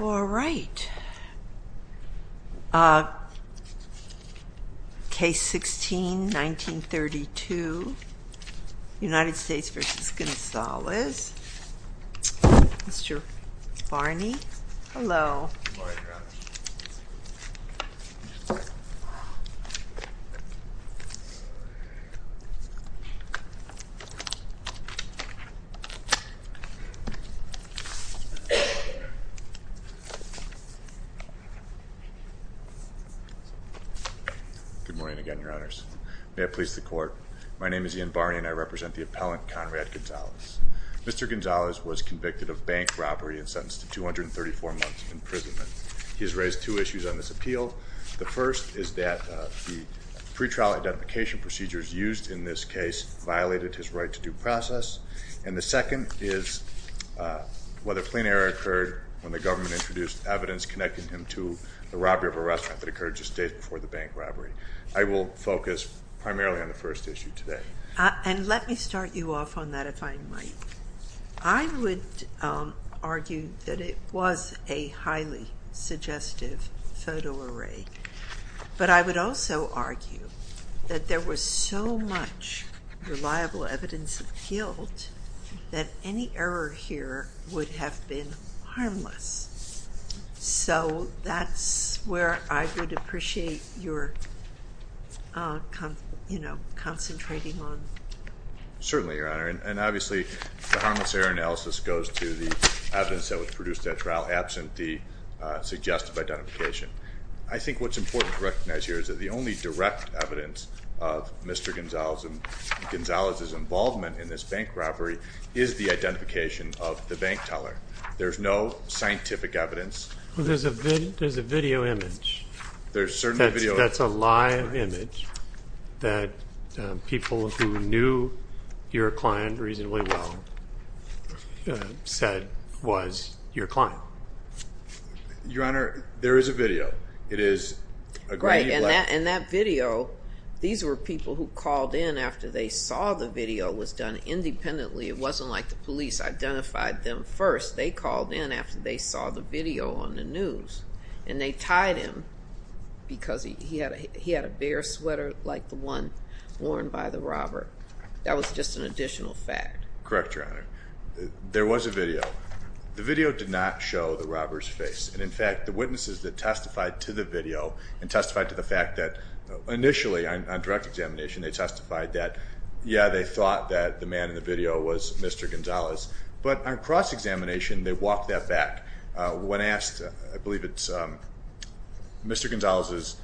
All right. Case 16-1932, United States versus Gonzalez, Mr. Barney, hello. Good morning, Your Honors. Good morning again, Your Honors. May it please the Court. My name is Ian Barney and I represent the appellant, Conrad Gonzalez. Mr. Gonzalez was convicted of bank robbery and sentenced to 234 months imprisonment. He has raised two issues on this appeal. The first is that the pre-trial identification procedures used in this case violated his right to due process. And the second is whether plain error occurred when the government introduced evidence connecting him to the robbery of a restaurant that occurred just days before the bank robbery. I will focus primarily on the first issue today. And let me start you off on that, if I might. I would argue that it was a highly suggestive photo array. But I would also argue that there was so much reliable evidence appealed that any error here would have been harmless. So that's where I would appreciate your concentrating on. Certainly, Your Honor. And obviously the harmless error analysis goes to the evidence that was produced at trial absent the suggestive identification. I think what's important to recognize here is that the only direct evidence of Mr. Gonzalez's involvement in this bank robbery is the identification of the bank teller. There's no scientific evidence. There's a video image. There's certainly a video image. That's a live image that people who knew your client reasonably well said was your client. Your Honor, there is a video. Right. And that video, these were people who called in after they saw the video was done independently. It wasn't like the police identified them first. They called in after they saw the video on the news. And they tied him because he had a bare sweater like the one worn by the robber. That was just an additional fact. Correct, Your Honor. There was a video. The video did not show the robber's face. And, in fact, the witnesses that testified to the video and testified to the fact that initially on direct examination, they testified that, yeah, they thought that the man in the video was Mr. Gonzalez. But on cross-examination, they walked that back. When asked, I believe it's Mr. Gonzalez's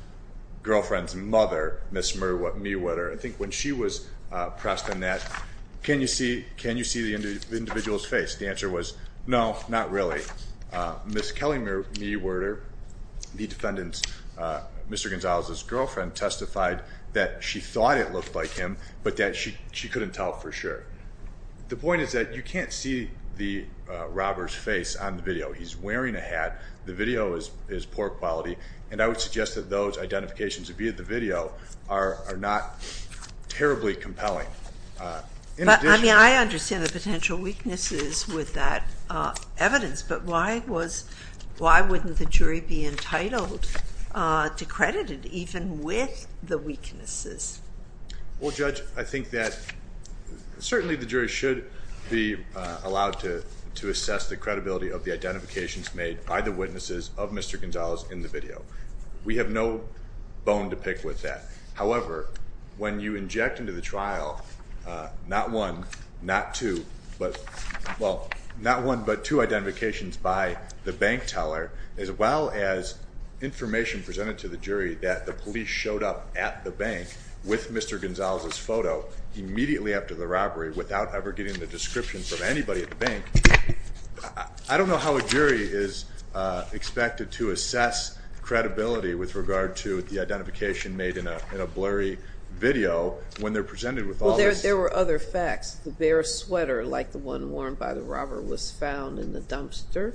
girlfriend's mother, Ms. Mewetter, I think when she was pressed on that, can you see the individual's face? The answer was no, not really. Ms. Kelly Mewetter, the defendant's, Mr. Gonzalez's girlfriend, testified that she thought it looked like him, but that she couldn't tell for sure. The point is that you can't see the robber's face on the video. He's wearing a hat. The video is poor quality. And I would suggest that those identifications, be it the video, are not terribly compelling. But, I mean, I understand the potential weaknesses with that evidence, but why wouldn't the jury be entitled to credit even with the weaknesses? Well, Judge, I think that certainly the jury should be allowed to assess the credibility of the identifications made by the witnesses of Mr. Gonzalez in the video. We have no bone to pick with that. However, when you inject into the trial not one, not two, but, well, not one but two identifications by the bank teller, as well as information presented to the jury that the police showed up at the bank with Mr. Gonzalez's photo immediately after the robbery, without ever getting the description from anybody at the bank, I don't know how a jury is expected to assess credibility with regard to the identification made in a blurry video when they're presented with all this. Well, there were other facts. The bear sweater, like the one worn by the robber, was found in the dumpster.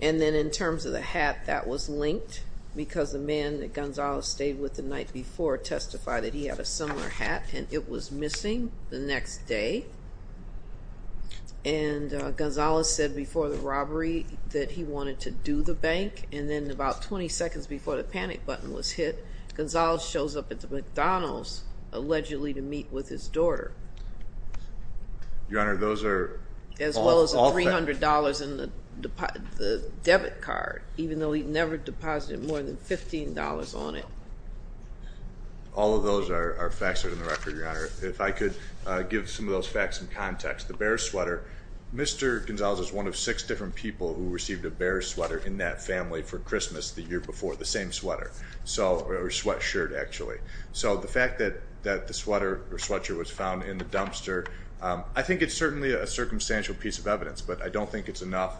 And then in terms of the hat, that was linked because the man that Gonzalez stayed with the night before testified that he had a similar hat, and it was missing the next day. And Gonzalez said before the robbery that he wanted to do the bank, and then about 20 seconds before the panic button was hit, Gonzalez shows up at the McDonald's allegedly to meet with his daughter. Your Honor, those are all facts. As well as $300 in the debit card, even though he never deposited more than $15 on it. All of those are facts that are in the record, Your Honor. If I could give some of those facts in context. The bear sweater, Mr. Gonzalez was one of six different people who received a bear sweater in that family for Christmas the year before. The same sweater, or sweatshirt, actually. So the fact that the sweater or sweatshirt was found in the dumpster, I think it's certainly a circumstantial piece of evidence, but I don't think it's enough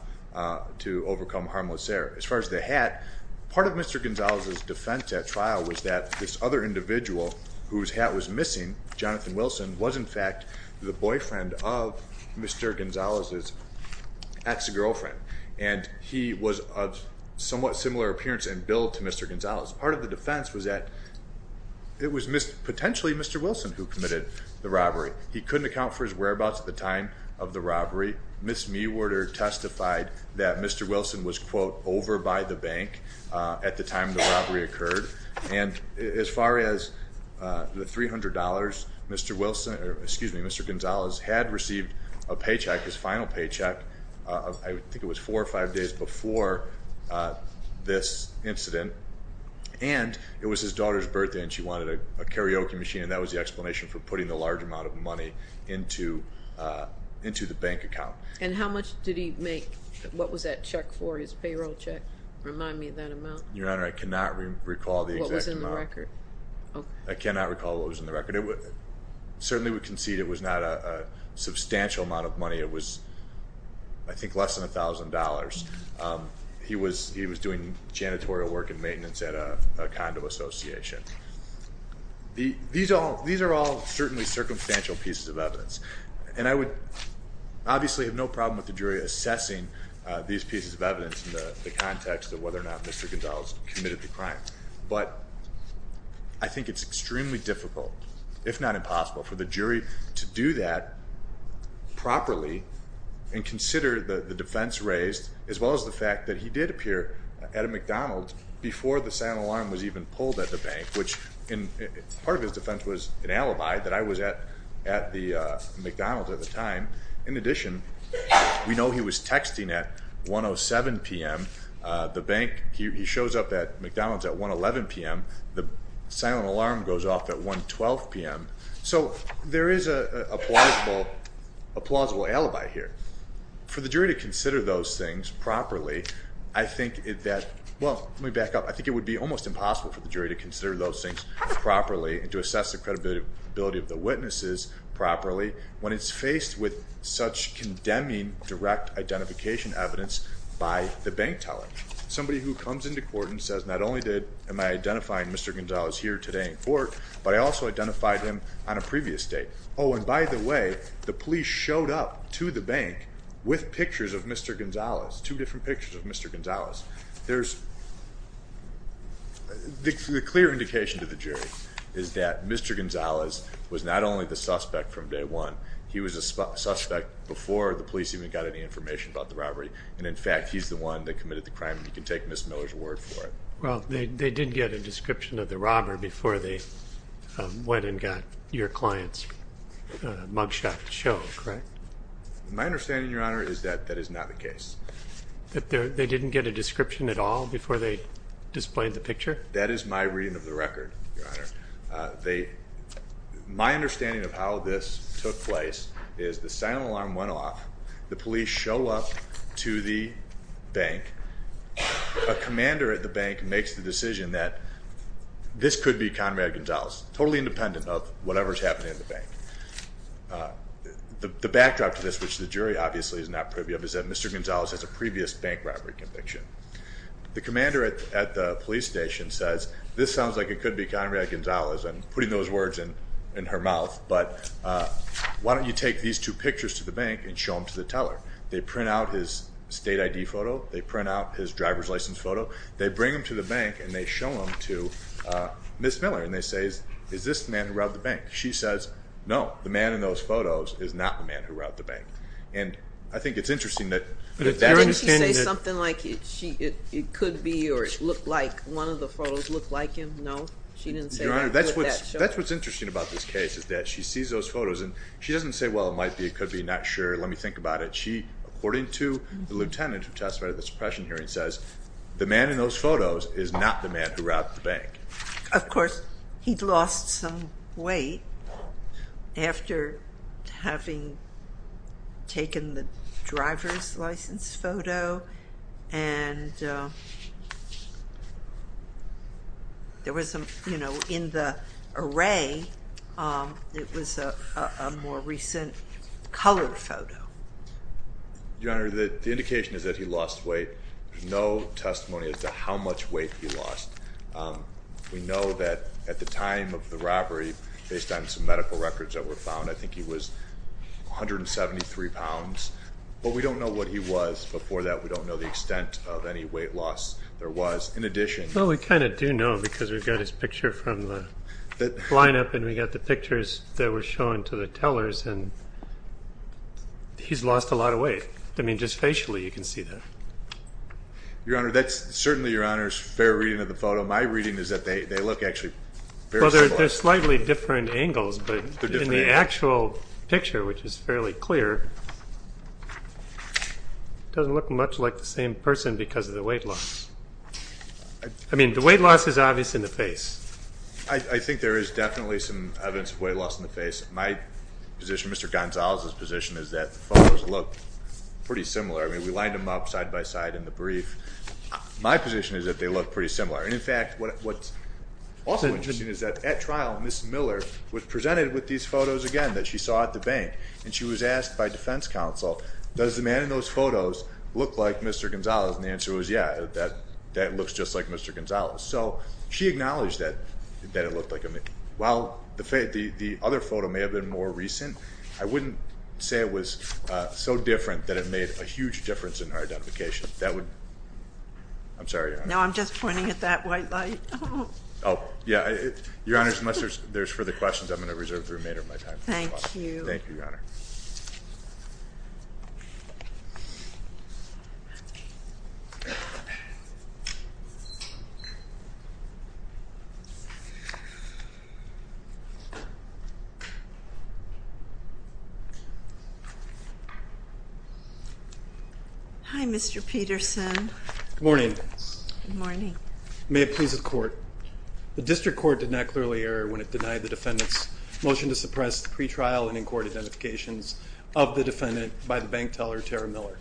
to overcome harmless error. As far as the hat, part of Mr. Gonzalez's defense at trial was that this other individual whose hat was missing, Jonathan Wilson, was in fact the boyfriend of Mr. Gonzalez's ex-girlfriend. And he was of somewhat similar appearance and build to Mr. Gonzalez. Part of the defense was that it was potentially Mr. Wilson who committed the robbery. He couldn't account for his whereabouts at the time of the robbery. Ms. Mewarder testified that Mr. Wilson was, quote, over by the bank at the time the robbery occurred. And as far as the $300, Mr. Wilson, or excuse me, Mr. Gonzalez had received a paycheck, his final paycheck, I think it was four or five days before this incident. And it was his daughter's birthday and she wanted a karaoke machine, and that was the explanation for putting the large amount of money into the bank account. And how much did he make? What was that check for, his payroll check? Remind me of that amount. Your Honor, I cannot recall the exact amount. What was in the record? I cannot recall what was in the record. I certainly would concede it was not a substantial amount of money. It was, I think, less than $1,000. He was doing janitorial work and maintenance at a condo association. These are all certainly circumstantial pieces of evidence. And I would obviously have no problem with the jury assessing these pieces of evidence in the context of whether or not Mr. Gonzalez committed the crime. But I think it's extremely difficult, if not impossible, for the jury to do that properly and consider the defense raised as well as the fact that he did appear at a McDonald's before the sound alarm was even pulled at the bank, which part of his defense was an alibi that I was at the McDonald's at the time. In addition, we know he was texting at 1.07 p.m. The bank, he shows up at McDonald's at 1.11 p.m. The silent alarm goes off at 1.12 p.m. So there is a plausible alibi here. For the jury to consider those things properly, I think that, well, let me back up. I think it would be almost impossible for the jury to consider those things properly and to assess the credibility of the witnesses properly when it's faced with such condemning direct identification evidence by the bank teller, somebody who comes into court and says not only am I identifying Mr. Gonzalez here today in court, but I also identified him on a previous date. Oh, and by the way, the police showed up to the bank with pictures of Mr. Gonzalez, two different pictures of Mr. Gonzalez. The clear indication to the jury is that Mr. Gonzalez was not only the suspect from day one. He was a suspect before the police even got any information about the robbery, and, in fact, he's the one that committed the crime. You can take Ms. Miller's word for it. Well, they did get a description of the robber before they went and got your client's mugshot show, correct? My understanding, Your Honor, is that that is not the case. That they didn't get a description at all before they displayed the picture? That is my reading of the record, Your Honor. My understanding of how this took place is the siren alarm went off, the police show up to the bank, a commander at the bank makes the decision that this could be Conrad Gonzalez, the backdrop to this, which the jury obviously is not privy of, is that Mr. Gonzalez has a previous bank robbery conviction. The commander at the police station says, this sounds like it could be Conrad Gonzalez. I'm putting those words in her mouth, but why don't you take these two pictures to the bank and show them to the teller? They print out his state ID photo. They print out his driver's license photo. They bring them to the bank, and they show them to Ms. Miller, and they say, is this the man who robbed the bank? She says, no, the man in those photos is not the man who robbed the bank. And I think it's interesting that that understanding that... Didn't she say something like it could be or it looked like, one of the photos looked like him? No? She didn't say that? Your Honor, that's what's interesting about this case is that she sees those photos, and she doesn't say, well, it might be, it could be, not sure, let me think about it. She, according to the lieutenant who testified at the suppression hearing, says, the man in those photos is not the man who robbed the bank. Of course, he'd lost some weight after having taken the driver's license photo, and there was some, you know, in the array, it was a more recent color photo. Your Honor, the indication is that he lost weight. There's no testimony as to how much weight he lost. We know that at the time of the robbery, based on some medical records that were found, I think he was 173 pounds. But we don't know what he was before that. We don't know the extent of any weight loss there was. In addition... Well, we kind of do know, because we've got his picture from the lineup, and we've got the pictures that were shown to the tellers, and he's lost a lot of weight. I mean, just facially, you can see that. Your Honor, that's certainly, Your Honor's fair reading of the photo. My reading is that they look actually very similar. Well, they're slightly different angles, but in the actual picture, which is fairly clear, doesn't look much like the same person because of the weight loss. I mean, the weight loss is obvious in the face. I think there is definitely some evidence of weight loss in the face. My position, Mr. Gonzalez's position, is that the photos look pretty similar. I mean, we lined them up side by side in the brief. My position is that they look pretty similar. And, in fact, what's also interesting is that at trial, Ms. Miller was presented with these photos again that she saw at the bank. And she was asked by defense counsel, does the man in those photos look like Mr. Gonzalez? And the answer was, yeah, that looks just like Mr. Gonzalez. So she acknowledged that it looked like him. While the other photo may have been more recent, I wouldn't say it was so different that it made a huge difference in our identification. That would, I'm sorry, Your Honor. No, I'm just pointing at that white light. Oh, yeah, Your Honor, unless there's further questions, I'm going to reserve the remainder of my time. Thank you. Thank you, Your Honor. Thank you. Hi, Mr. Peterson. Good morning. Good morning. May it please the Court. The District Court did not clearly error when it denied the defendant's motion to suppress the pretrial and in-court identifications of the defendant by the bank teller, Tara Miller.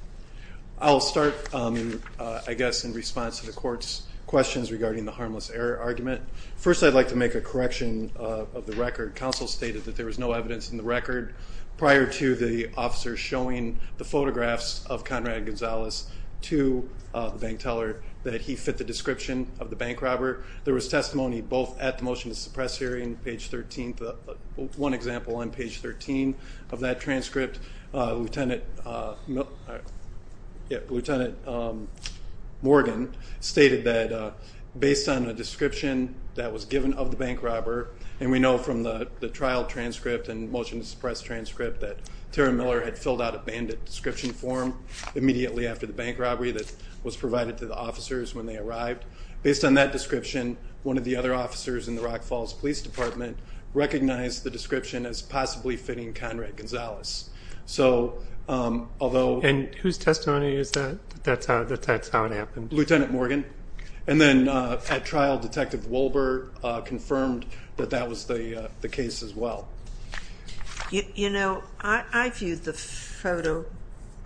I'll start, I guess, in response to the Court's questions regarding the harmless error argument. First, I'd like to make a correction of the record. Counsel stated that there was no evidence in the record prior to the officer showing the photographs of Conrad Gonzalez to the bank teller that he fit the description of the bank robber. There was testimony both at the motion to suppress hearing, page 13, one example on page 13 of that transcript. Lieutenant Morgan stated that based on a description that was given of the bank robber, and we know from the trial transcript and motion to suppress transcript that Tara Miller had filled out a bandit description form immediately after the bank robbery that was provided to the officers when they arrived. Based on that description, one of the other officers in the Rock Falls Police Department recognized the description as possibly fitting Conrad Gonzalez. And whose testimony is that, that that's how it happened? Lieutenant Morgan. And then at trial, Detective Wolbert confirmed that that was the case as well. You know, I viewed the photo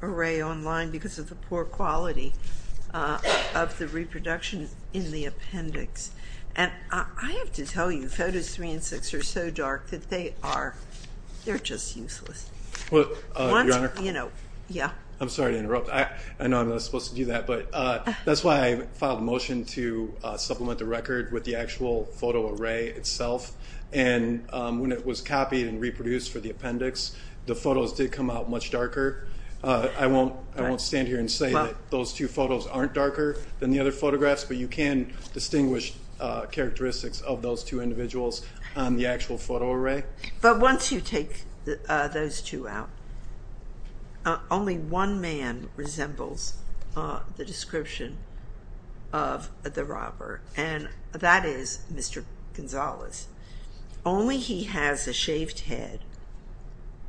array online because of the poor quality of the reproduction in the appendix. And I have to tell you, photos three and six are so dark that they are, they're just useless. Well, Your Honor. Yeah. I'm sorry to interrupt. I know I'm not supposed to do that, but that's why I filed a motion to supplement the record with the actual photo array itself. And when it was copied and reproduced for the appendix, the photos did come out much darker. I won't stand here and say that those two photos aren't darker than the other photographs, but you can distinguish characteristics of those two individuals on the actual photo array. But once you take those two out, only one man resembles the description of the robber. And that is Mr. Gonzalez. Only he has a shaved head,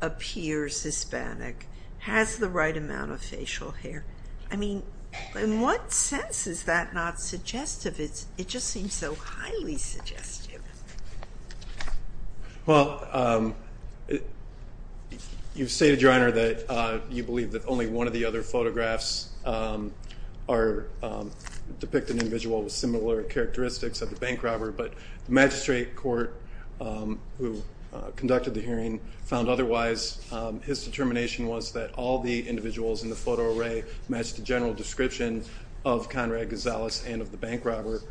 appears Hispanic, has the right amount of facial hair. I mean, in what sense is that not suggestive? It just seems so highly suggestive. Well, you stated, Your Honor, that you believe that only one of the other photographs depict an individual with similar characteristics of the bank robber. But the magistrate court who conducted the hearing found otherwise. His determination was that all the individuals in the photo array matched the general description of Conrad Gonzalez and of the bank robber.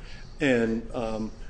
And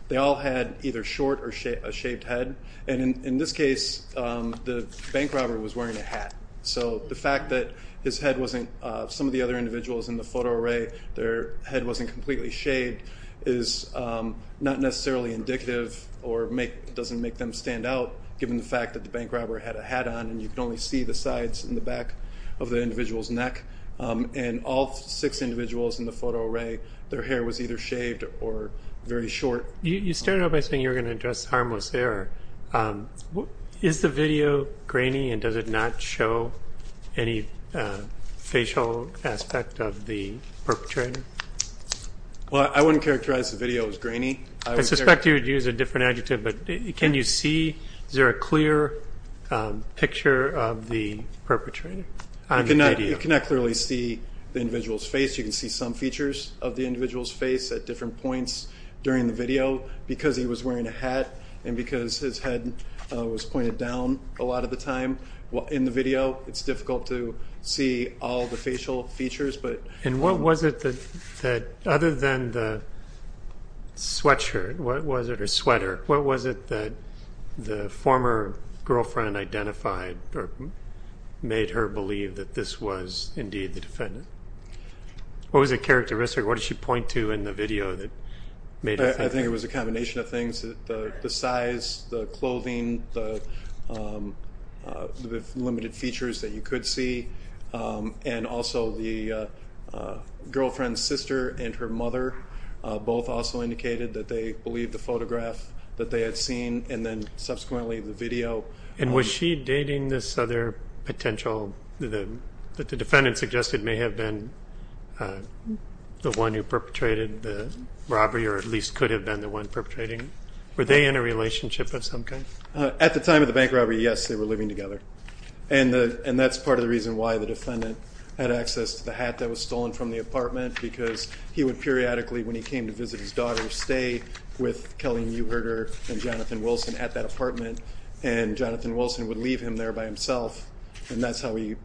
they all had either short or a shaved head. And in this case, the bank robber was wearing a hat. So the fact that his head wasn't, some of the other individuals in the photo array, their head wasn't completely shaved, is not necessarily indicative or doesn't make them stand out, given the fact that the bank robber had a hat on and you could only see the sides and the back of the individual's neck. And all six individuals in the photo array, their hair was either shaved or very short. You started out by saying you were going to address harmless error. Is the video grainy and does it not show any facial aspect of the perpetrator? Well, I wouldn't characterize the video as grainy. I suspect you would use a different adjective, but can you see, is there a clear picture of the perpetrator on the video? You cannot clearly see the individual's face. You can see some features of the individual's face at different points during the video. Because he was wearing a hat and because his head was pointed down a lot of the time in the video, it's difficult to see all the facial features. And what was it that, other than the sweatshirt, was it a sweater? What was it that the former girlfriend identified or made her believe that this was indeed the defendant? What was the characteristic? What did she point to in the video that made her think? I think it was a combination of things. The size, the clothing, the limited features that you could see. And also the girlfriend's sister and her mother both also indicated that they believed the photograph that they had seen. And then subsequently the video. And was she dating this other potential that the defendant suggested may have been the one who perpetrated the robbery or at least could have been the one perpetrating it? Were they in a relationship of some kind? At the time of the bank robbery, yes, they were living together. And that's part of the reason why the defendant had access to the hat that was stolen from the apartment because he would periodically, when he came to visit his daughter, stay with Kelly Neuherter and Jonathan Wilson at that apartment. And Jonathan Wilson would leave him there by himself. And that's how he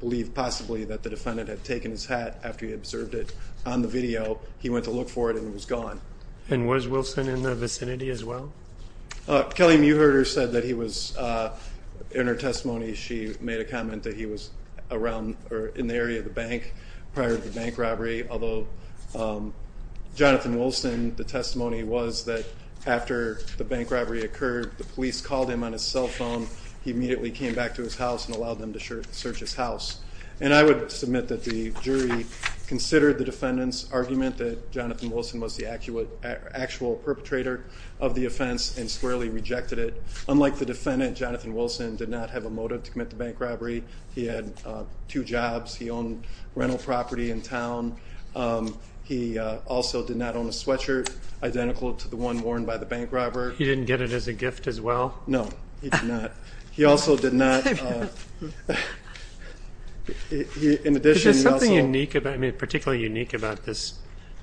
believed possibly that the defendant had taken his hat after he observed it on the video. He went to look for it and it was gone. And was Wilson in the vicinity as well? Kelly Neuherter said that he was in her testimony. She made a comment that he was around or in the area of the bank prior to the bank robbery. Although Jonathan Wilson, the testimony was that after the bank robbery occurred, the police called him on his cell phone. He immediately came back to his house and allowed them to search his house. And I would submit that the jury considered the defendant's argument that Jonathan Wilson was the actual perpetrator of the offense and squarely rejected it. Unlike the defendant, Jonathan Wilson did not have a motive to commit the bank robbery. He had two jobs. He owned rental property in town. He also did not own a sweatshirt identical to the one worn by the bank robber. He didn't get it as a gift as well? No, he did not. He also did not. Is there something particularly unique about this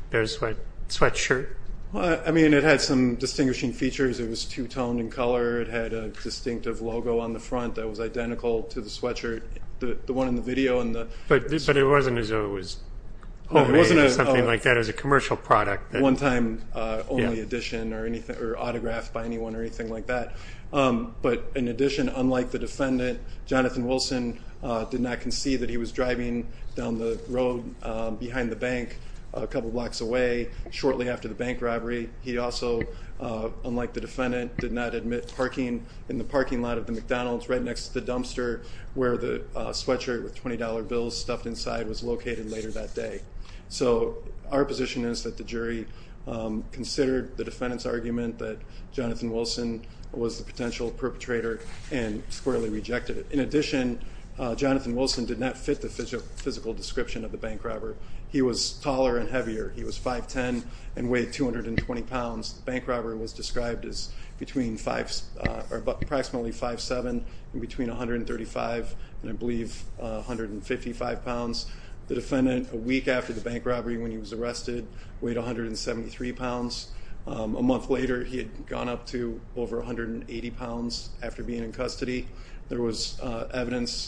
bear sweatshirt? It had some distinguishing features. It was two-toned in color. It had a distinctive logo on the front that was identical to the sweatshirt, the one in the video. But it wasn't as though it was homemade or something like that. It was a commercial product. One-time only edition or autographed by anyone or anything like that. But in addition, unlike the defendant, Jonathan Wilson did not concede that he was driving down the road behind the bank a couple blocks away shortly after the bank robbery. He also, unlike the defendant, did not admit parking in the parking lot of the McDonald's right next to the dumpster where the sweatshirt with $20 bills stuffed inside was located later that day. So our position is that the jury considered the defendant's argument that Jonathan Wilson was the potential perpetrator and squarely rejected it. In addition, Jonathan Wilson did not fit the physical description of the bank robber. He was taller and heavier. He was 5'10 and weighed 220 pounds. The bank robber was described as approximately 5'7 and between 135 and I believe 155 pounds. The defendant, a week after the bank robbery when he was arrested, weighed 173 pounds. A month later, he had gone up to over 180 pounds after being in custody. There was evidence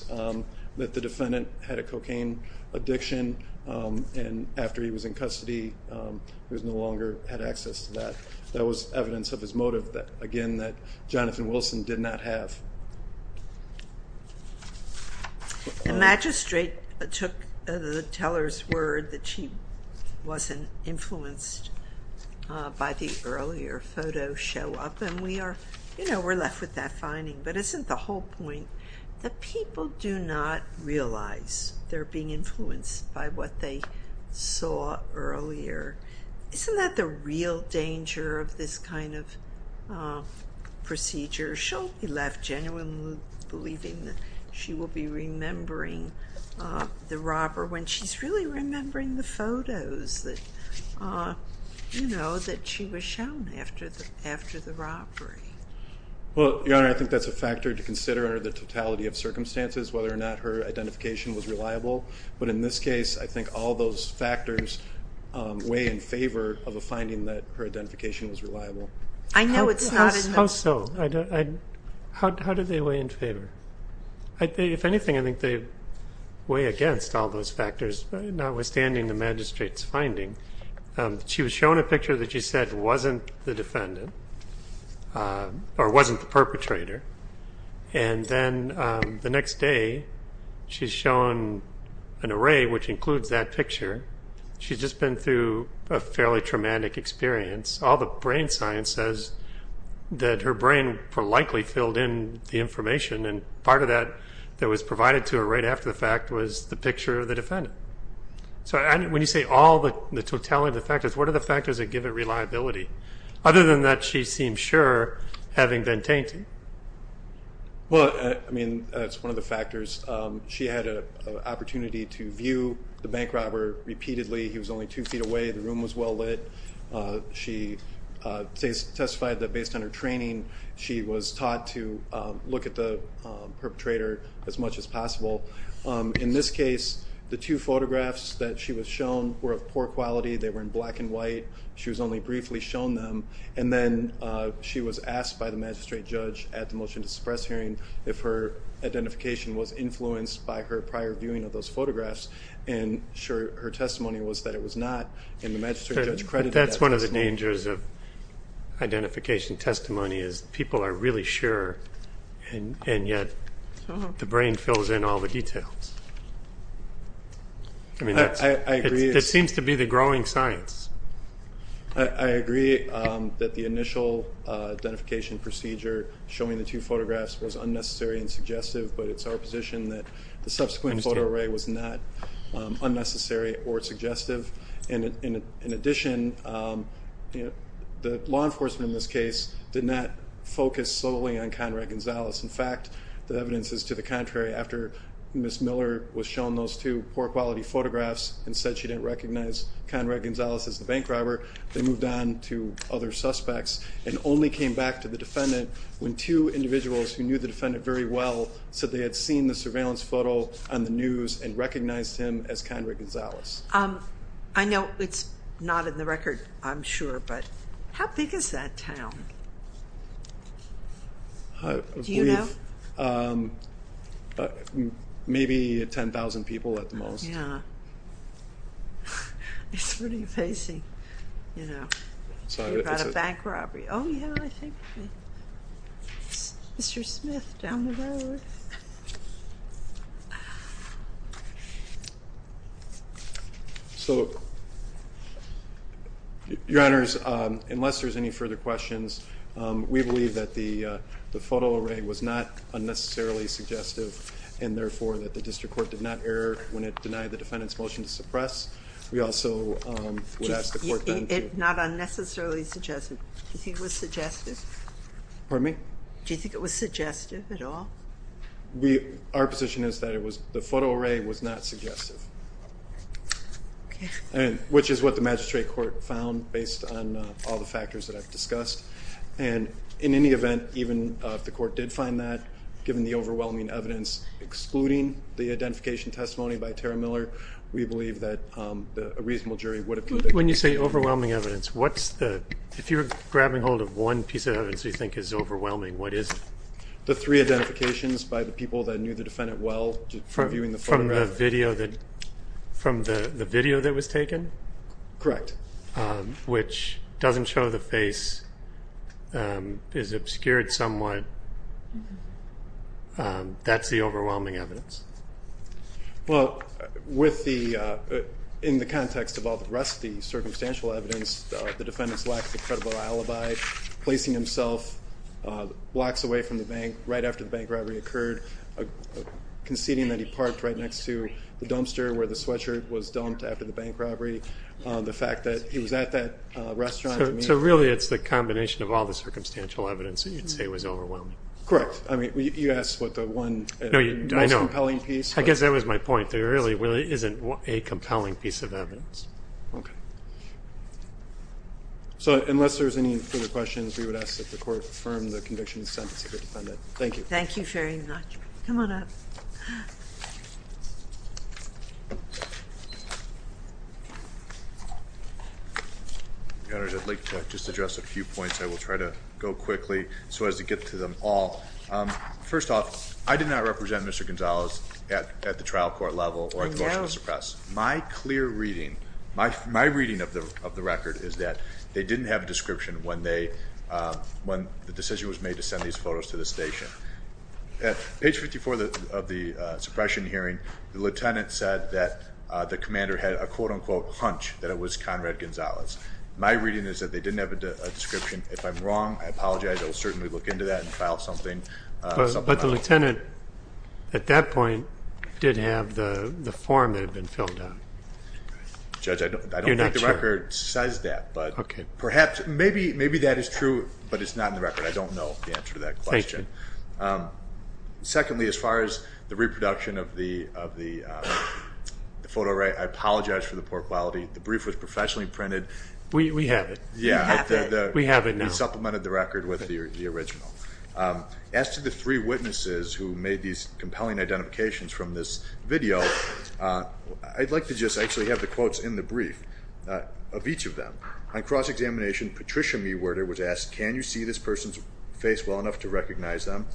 that the defendant had a cocaine addiction, and after he was in custody, he no longer had access to that. That was evidence of his motive, again, that Jonathan Wilson did not have. The magistrate took the teller's word that she wasn't influenced by the earlier photo show up, and we are, you know, we're left with that finding. But isn't the whole point that people do not realize they're being influenced by what they saw earlier? Isn't that the real danger of this kind of procedure? She'll be left genuinely believing that she will be remembering the robber when she's really remembering the photos that, you know, that she was shown after the robbery. Well, Your Honor, I think that's a factor to consider under the totality of circumstances, whether or not her identification was reliable. But in this case, I think all those factors weigh in favor of a finding that her identification was reliable. I know it's not enough. How so? How do they weigh in favor? If anything, I think they weigh against all those factors, notwithstanding the magistrate's finding. She was shown a picture that she said wasn't the defendant or wasn't the perpetrator, and then the next day she's shown an array which includes that picture. She's just been through a fairly traumatic experience. All the brain science says that her brain likely filled in the information, and part of that that was provided to her right after the fact was the picture of the defendant. So when you say all the totality of the factors, what are the factors that give it reliability? Other than that, she seems sure, having been tainted. Well, I mean, that's one of the factors. She had an opportunity to view the bank robber repeatedly. He was only two feet away. The room was well lit. She testified that based on her training she was taught to look at the perpetrator as much as possible. In this case, the two photographs that she was shown were of poor quality. They were in black and white. She was only briefly shown them, and then she was asked by the magistrate judge at the motion to suppress hearing if her identification was influenced by her prior viewing of those photographs, and her testimony was that it was not, and the magistrate judge credited that testimony. That's one of the dangers of identification testimony is people are really sure, and yet the brain fills in all the details. I agree. It seems to be the growing science. I agree that the initial identification procedure showing the two photographs was unnecessary and suggestive, but it's our position that the subsequent photo array was not unnecessary or suggestive. In addition, the law enforcement in this case did not focus solely on Conrad Gonzalez. In fact, the evidence is to the contrary. After Ms. Miller was shown those two poor quality photographs and said she didn't recognize Conrad Gonzalez as the bank robber, they moved on to other suspects and only came back to the defendant when two individuals who knew the defendant very well said they had seen the surveillance photo on the news and recognized him as Conrad Gonzalez. I know it's not in the record, I'm sure, but how big is that town? Do you know? Maybe 10,000 people at the most. It's pretty amazing. You know, you've got a bank robbery. Oh, yeah, I think Mr. Smith down the road. So, Your Honors, unless there's any further questions, we believe that the photo array was not unnecessarily suggestive and, therefore, that the district court did not err when it denied the defendant's motion to suppress. We also would ask the court then to- Not unnecessarily suggestive. Do you think it was suggestive? Pardon me? Do you think it was suggestive at all? Our position is that the photo array was not suggestive, which is what the magistrate court found based on all the factors that I've discussed. And in any event, even if the court did find that, given the overwhelming evidence excluding the identification testimony by Tara Miller, we believe that a reasonable jury would have- When you say overwhelming evidence, what's the- If you're grabbing hold of one piece of evidence you think is overwhelming, what is it? The three identifications by the people that knew the defendant well from viewing the photo array. From the video that was taken? Correct. Which doesn't show the face, is obscured somewhat. That's the overwhelming evidence? Well, in the context of all the rest of the circumstantial evidence, the defendant's lack of a credible alibi, placing himself blocks away from the bank right after the bank robbery occurred, conceding that he parked right next to the dumpster where the sweatshirt was dumped after the bank robbery, the fact that he was at that restaurant- So really it's the combination of all the circumstantial evidence that you'd say was overwhelming. Correct. I mean, you asked what the one- No, I know. The most compelling piece. I guess that was my point. There really isn't a compelling piece of evidence. Okay. So unless there's any further questions, we would ask that the court confirm the conviction and sentence of the defendant. Thank you. Thank you very much. Come on up. I'd like to just address a few points. I will try to go quickly so as to get to them all. First off, I did not represent Mr. Gonzalez at the trial court level or at the motion to suppress. My clear reading, my reading of the record is that they didn't have a description when the decision was made to send these photos to the station. At page 54 of the suppression hearing, the lieutenant said that the commander had a quote-unquote hunch that it was Conrad Gonzalez. My reading is that they didn't have a description. If I'm wrong, I apologize. I will certainly look into that and file something. But the lieutenant at that point did have the form that had been filled out. Judge, I don't think the record says that. But perhaps, maybe that is true, but it's not in the record. I don't know the answer to that question. Thank you. Secondly, as far as the reproduction of the photo, I apologize for the poor quality. The brief was professionally printed. We have it. Yeah. We have it now. We supplemented the record with the original. As to the three witnesses who made these compelling identifications from this video, I'd like to just actually have the quotes in the brief of each of them. On cross-examination, Patricia Mewerter was asked, can you see this person's face well enough to recognize them?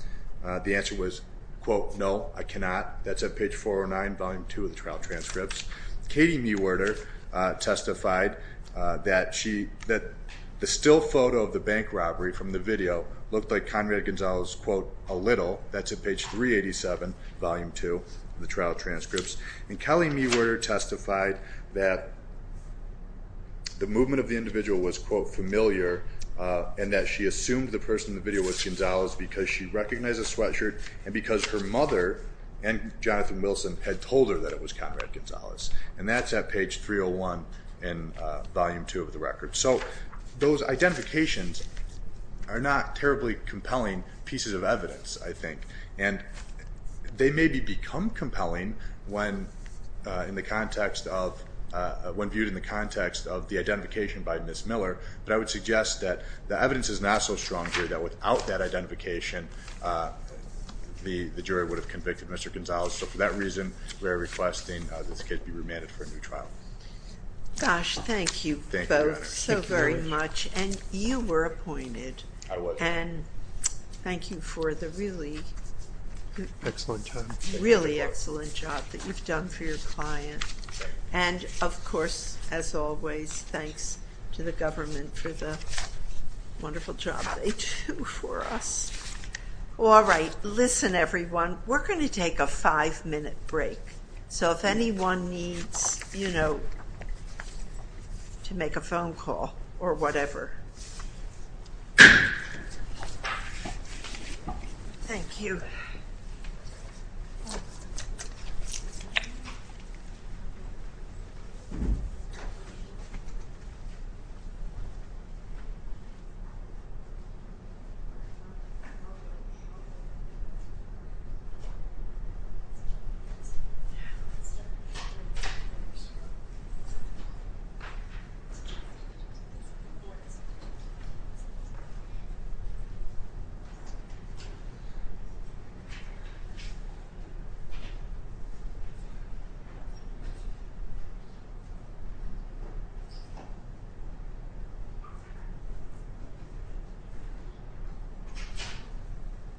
The answer was, quote, no, I cannot. That's at page 409, volume 2 of the trial transcripts. Katie Mewerter testified that the still photo of the bank robbery from the video looked like Conrad Gonzalez, quote, a little. That's at page 387, volume 2 of the trial transcripts. And Kelly Mewerter testified that the movement of the individual was, quote, familiar and that she assumed the person in the video was Gonzalez because she recognized the sweatshirt and because her mother and Jonathan Wilson had told her that it was Conrad Gonzalez. And that's at page 301 in volume 2 of the record. So those identifications are not terribly compelling pieces of evidence, I think. And they maybe become compelling when viewed in the context of the identification by Ms. Miller. But I would suggest that the evidence is not so strong here that without that identification, the jury would have convicted Mr. Gonzalez. So for that reason, we are requesting this case be remanded for a new trial. Gosh, thank you both so very much. And you were appointed. I was. And thank you for the really excellent job that you've done for your client. And of course, as always, thanks to the government for the wonderful job they do for us. All right. Listen, everyone. We're going to take a five-minute break. So if anyone needs, you know, to make a phone call or whatever. Thank you. Thank you.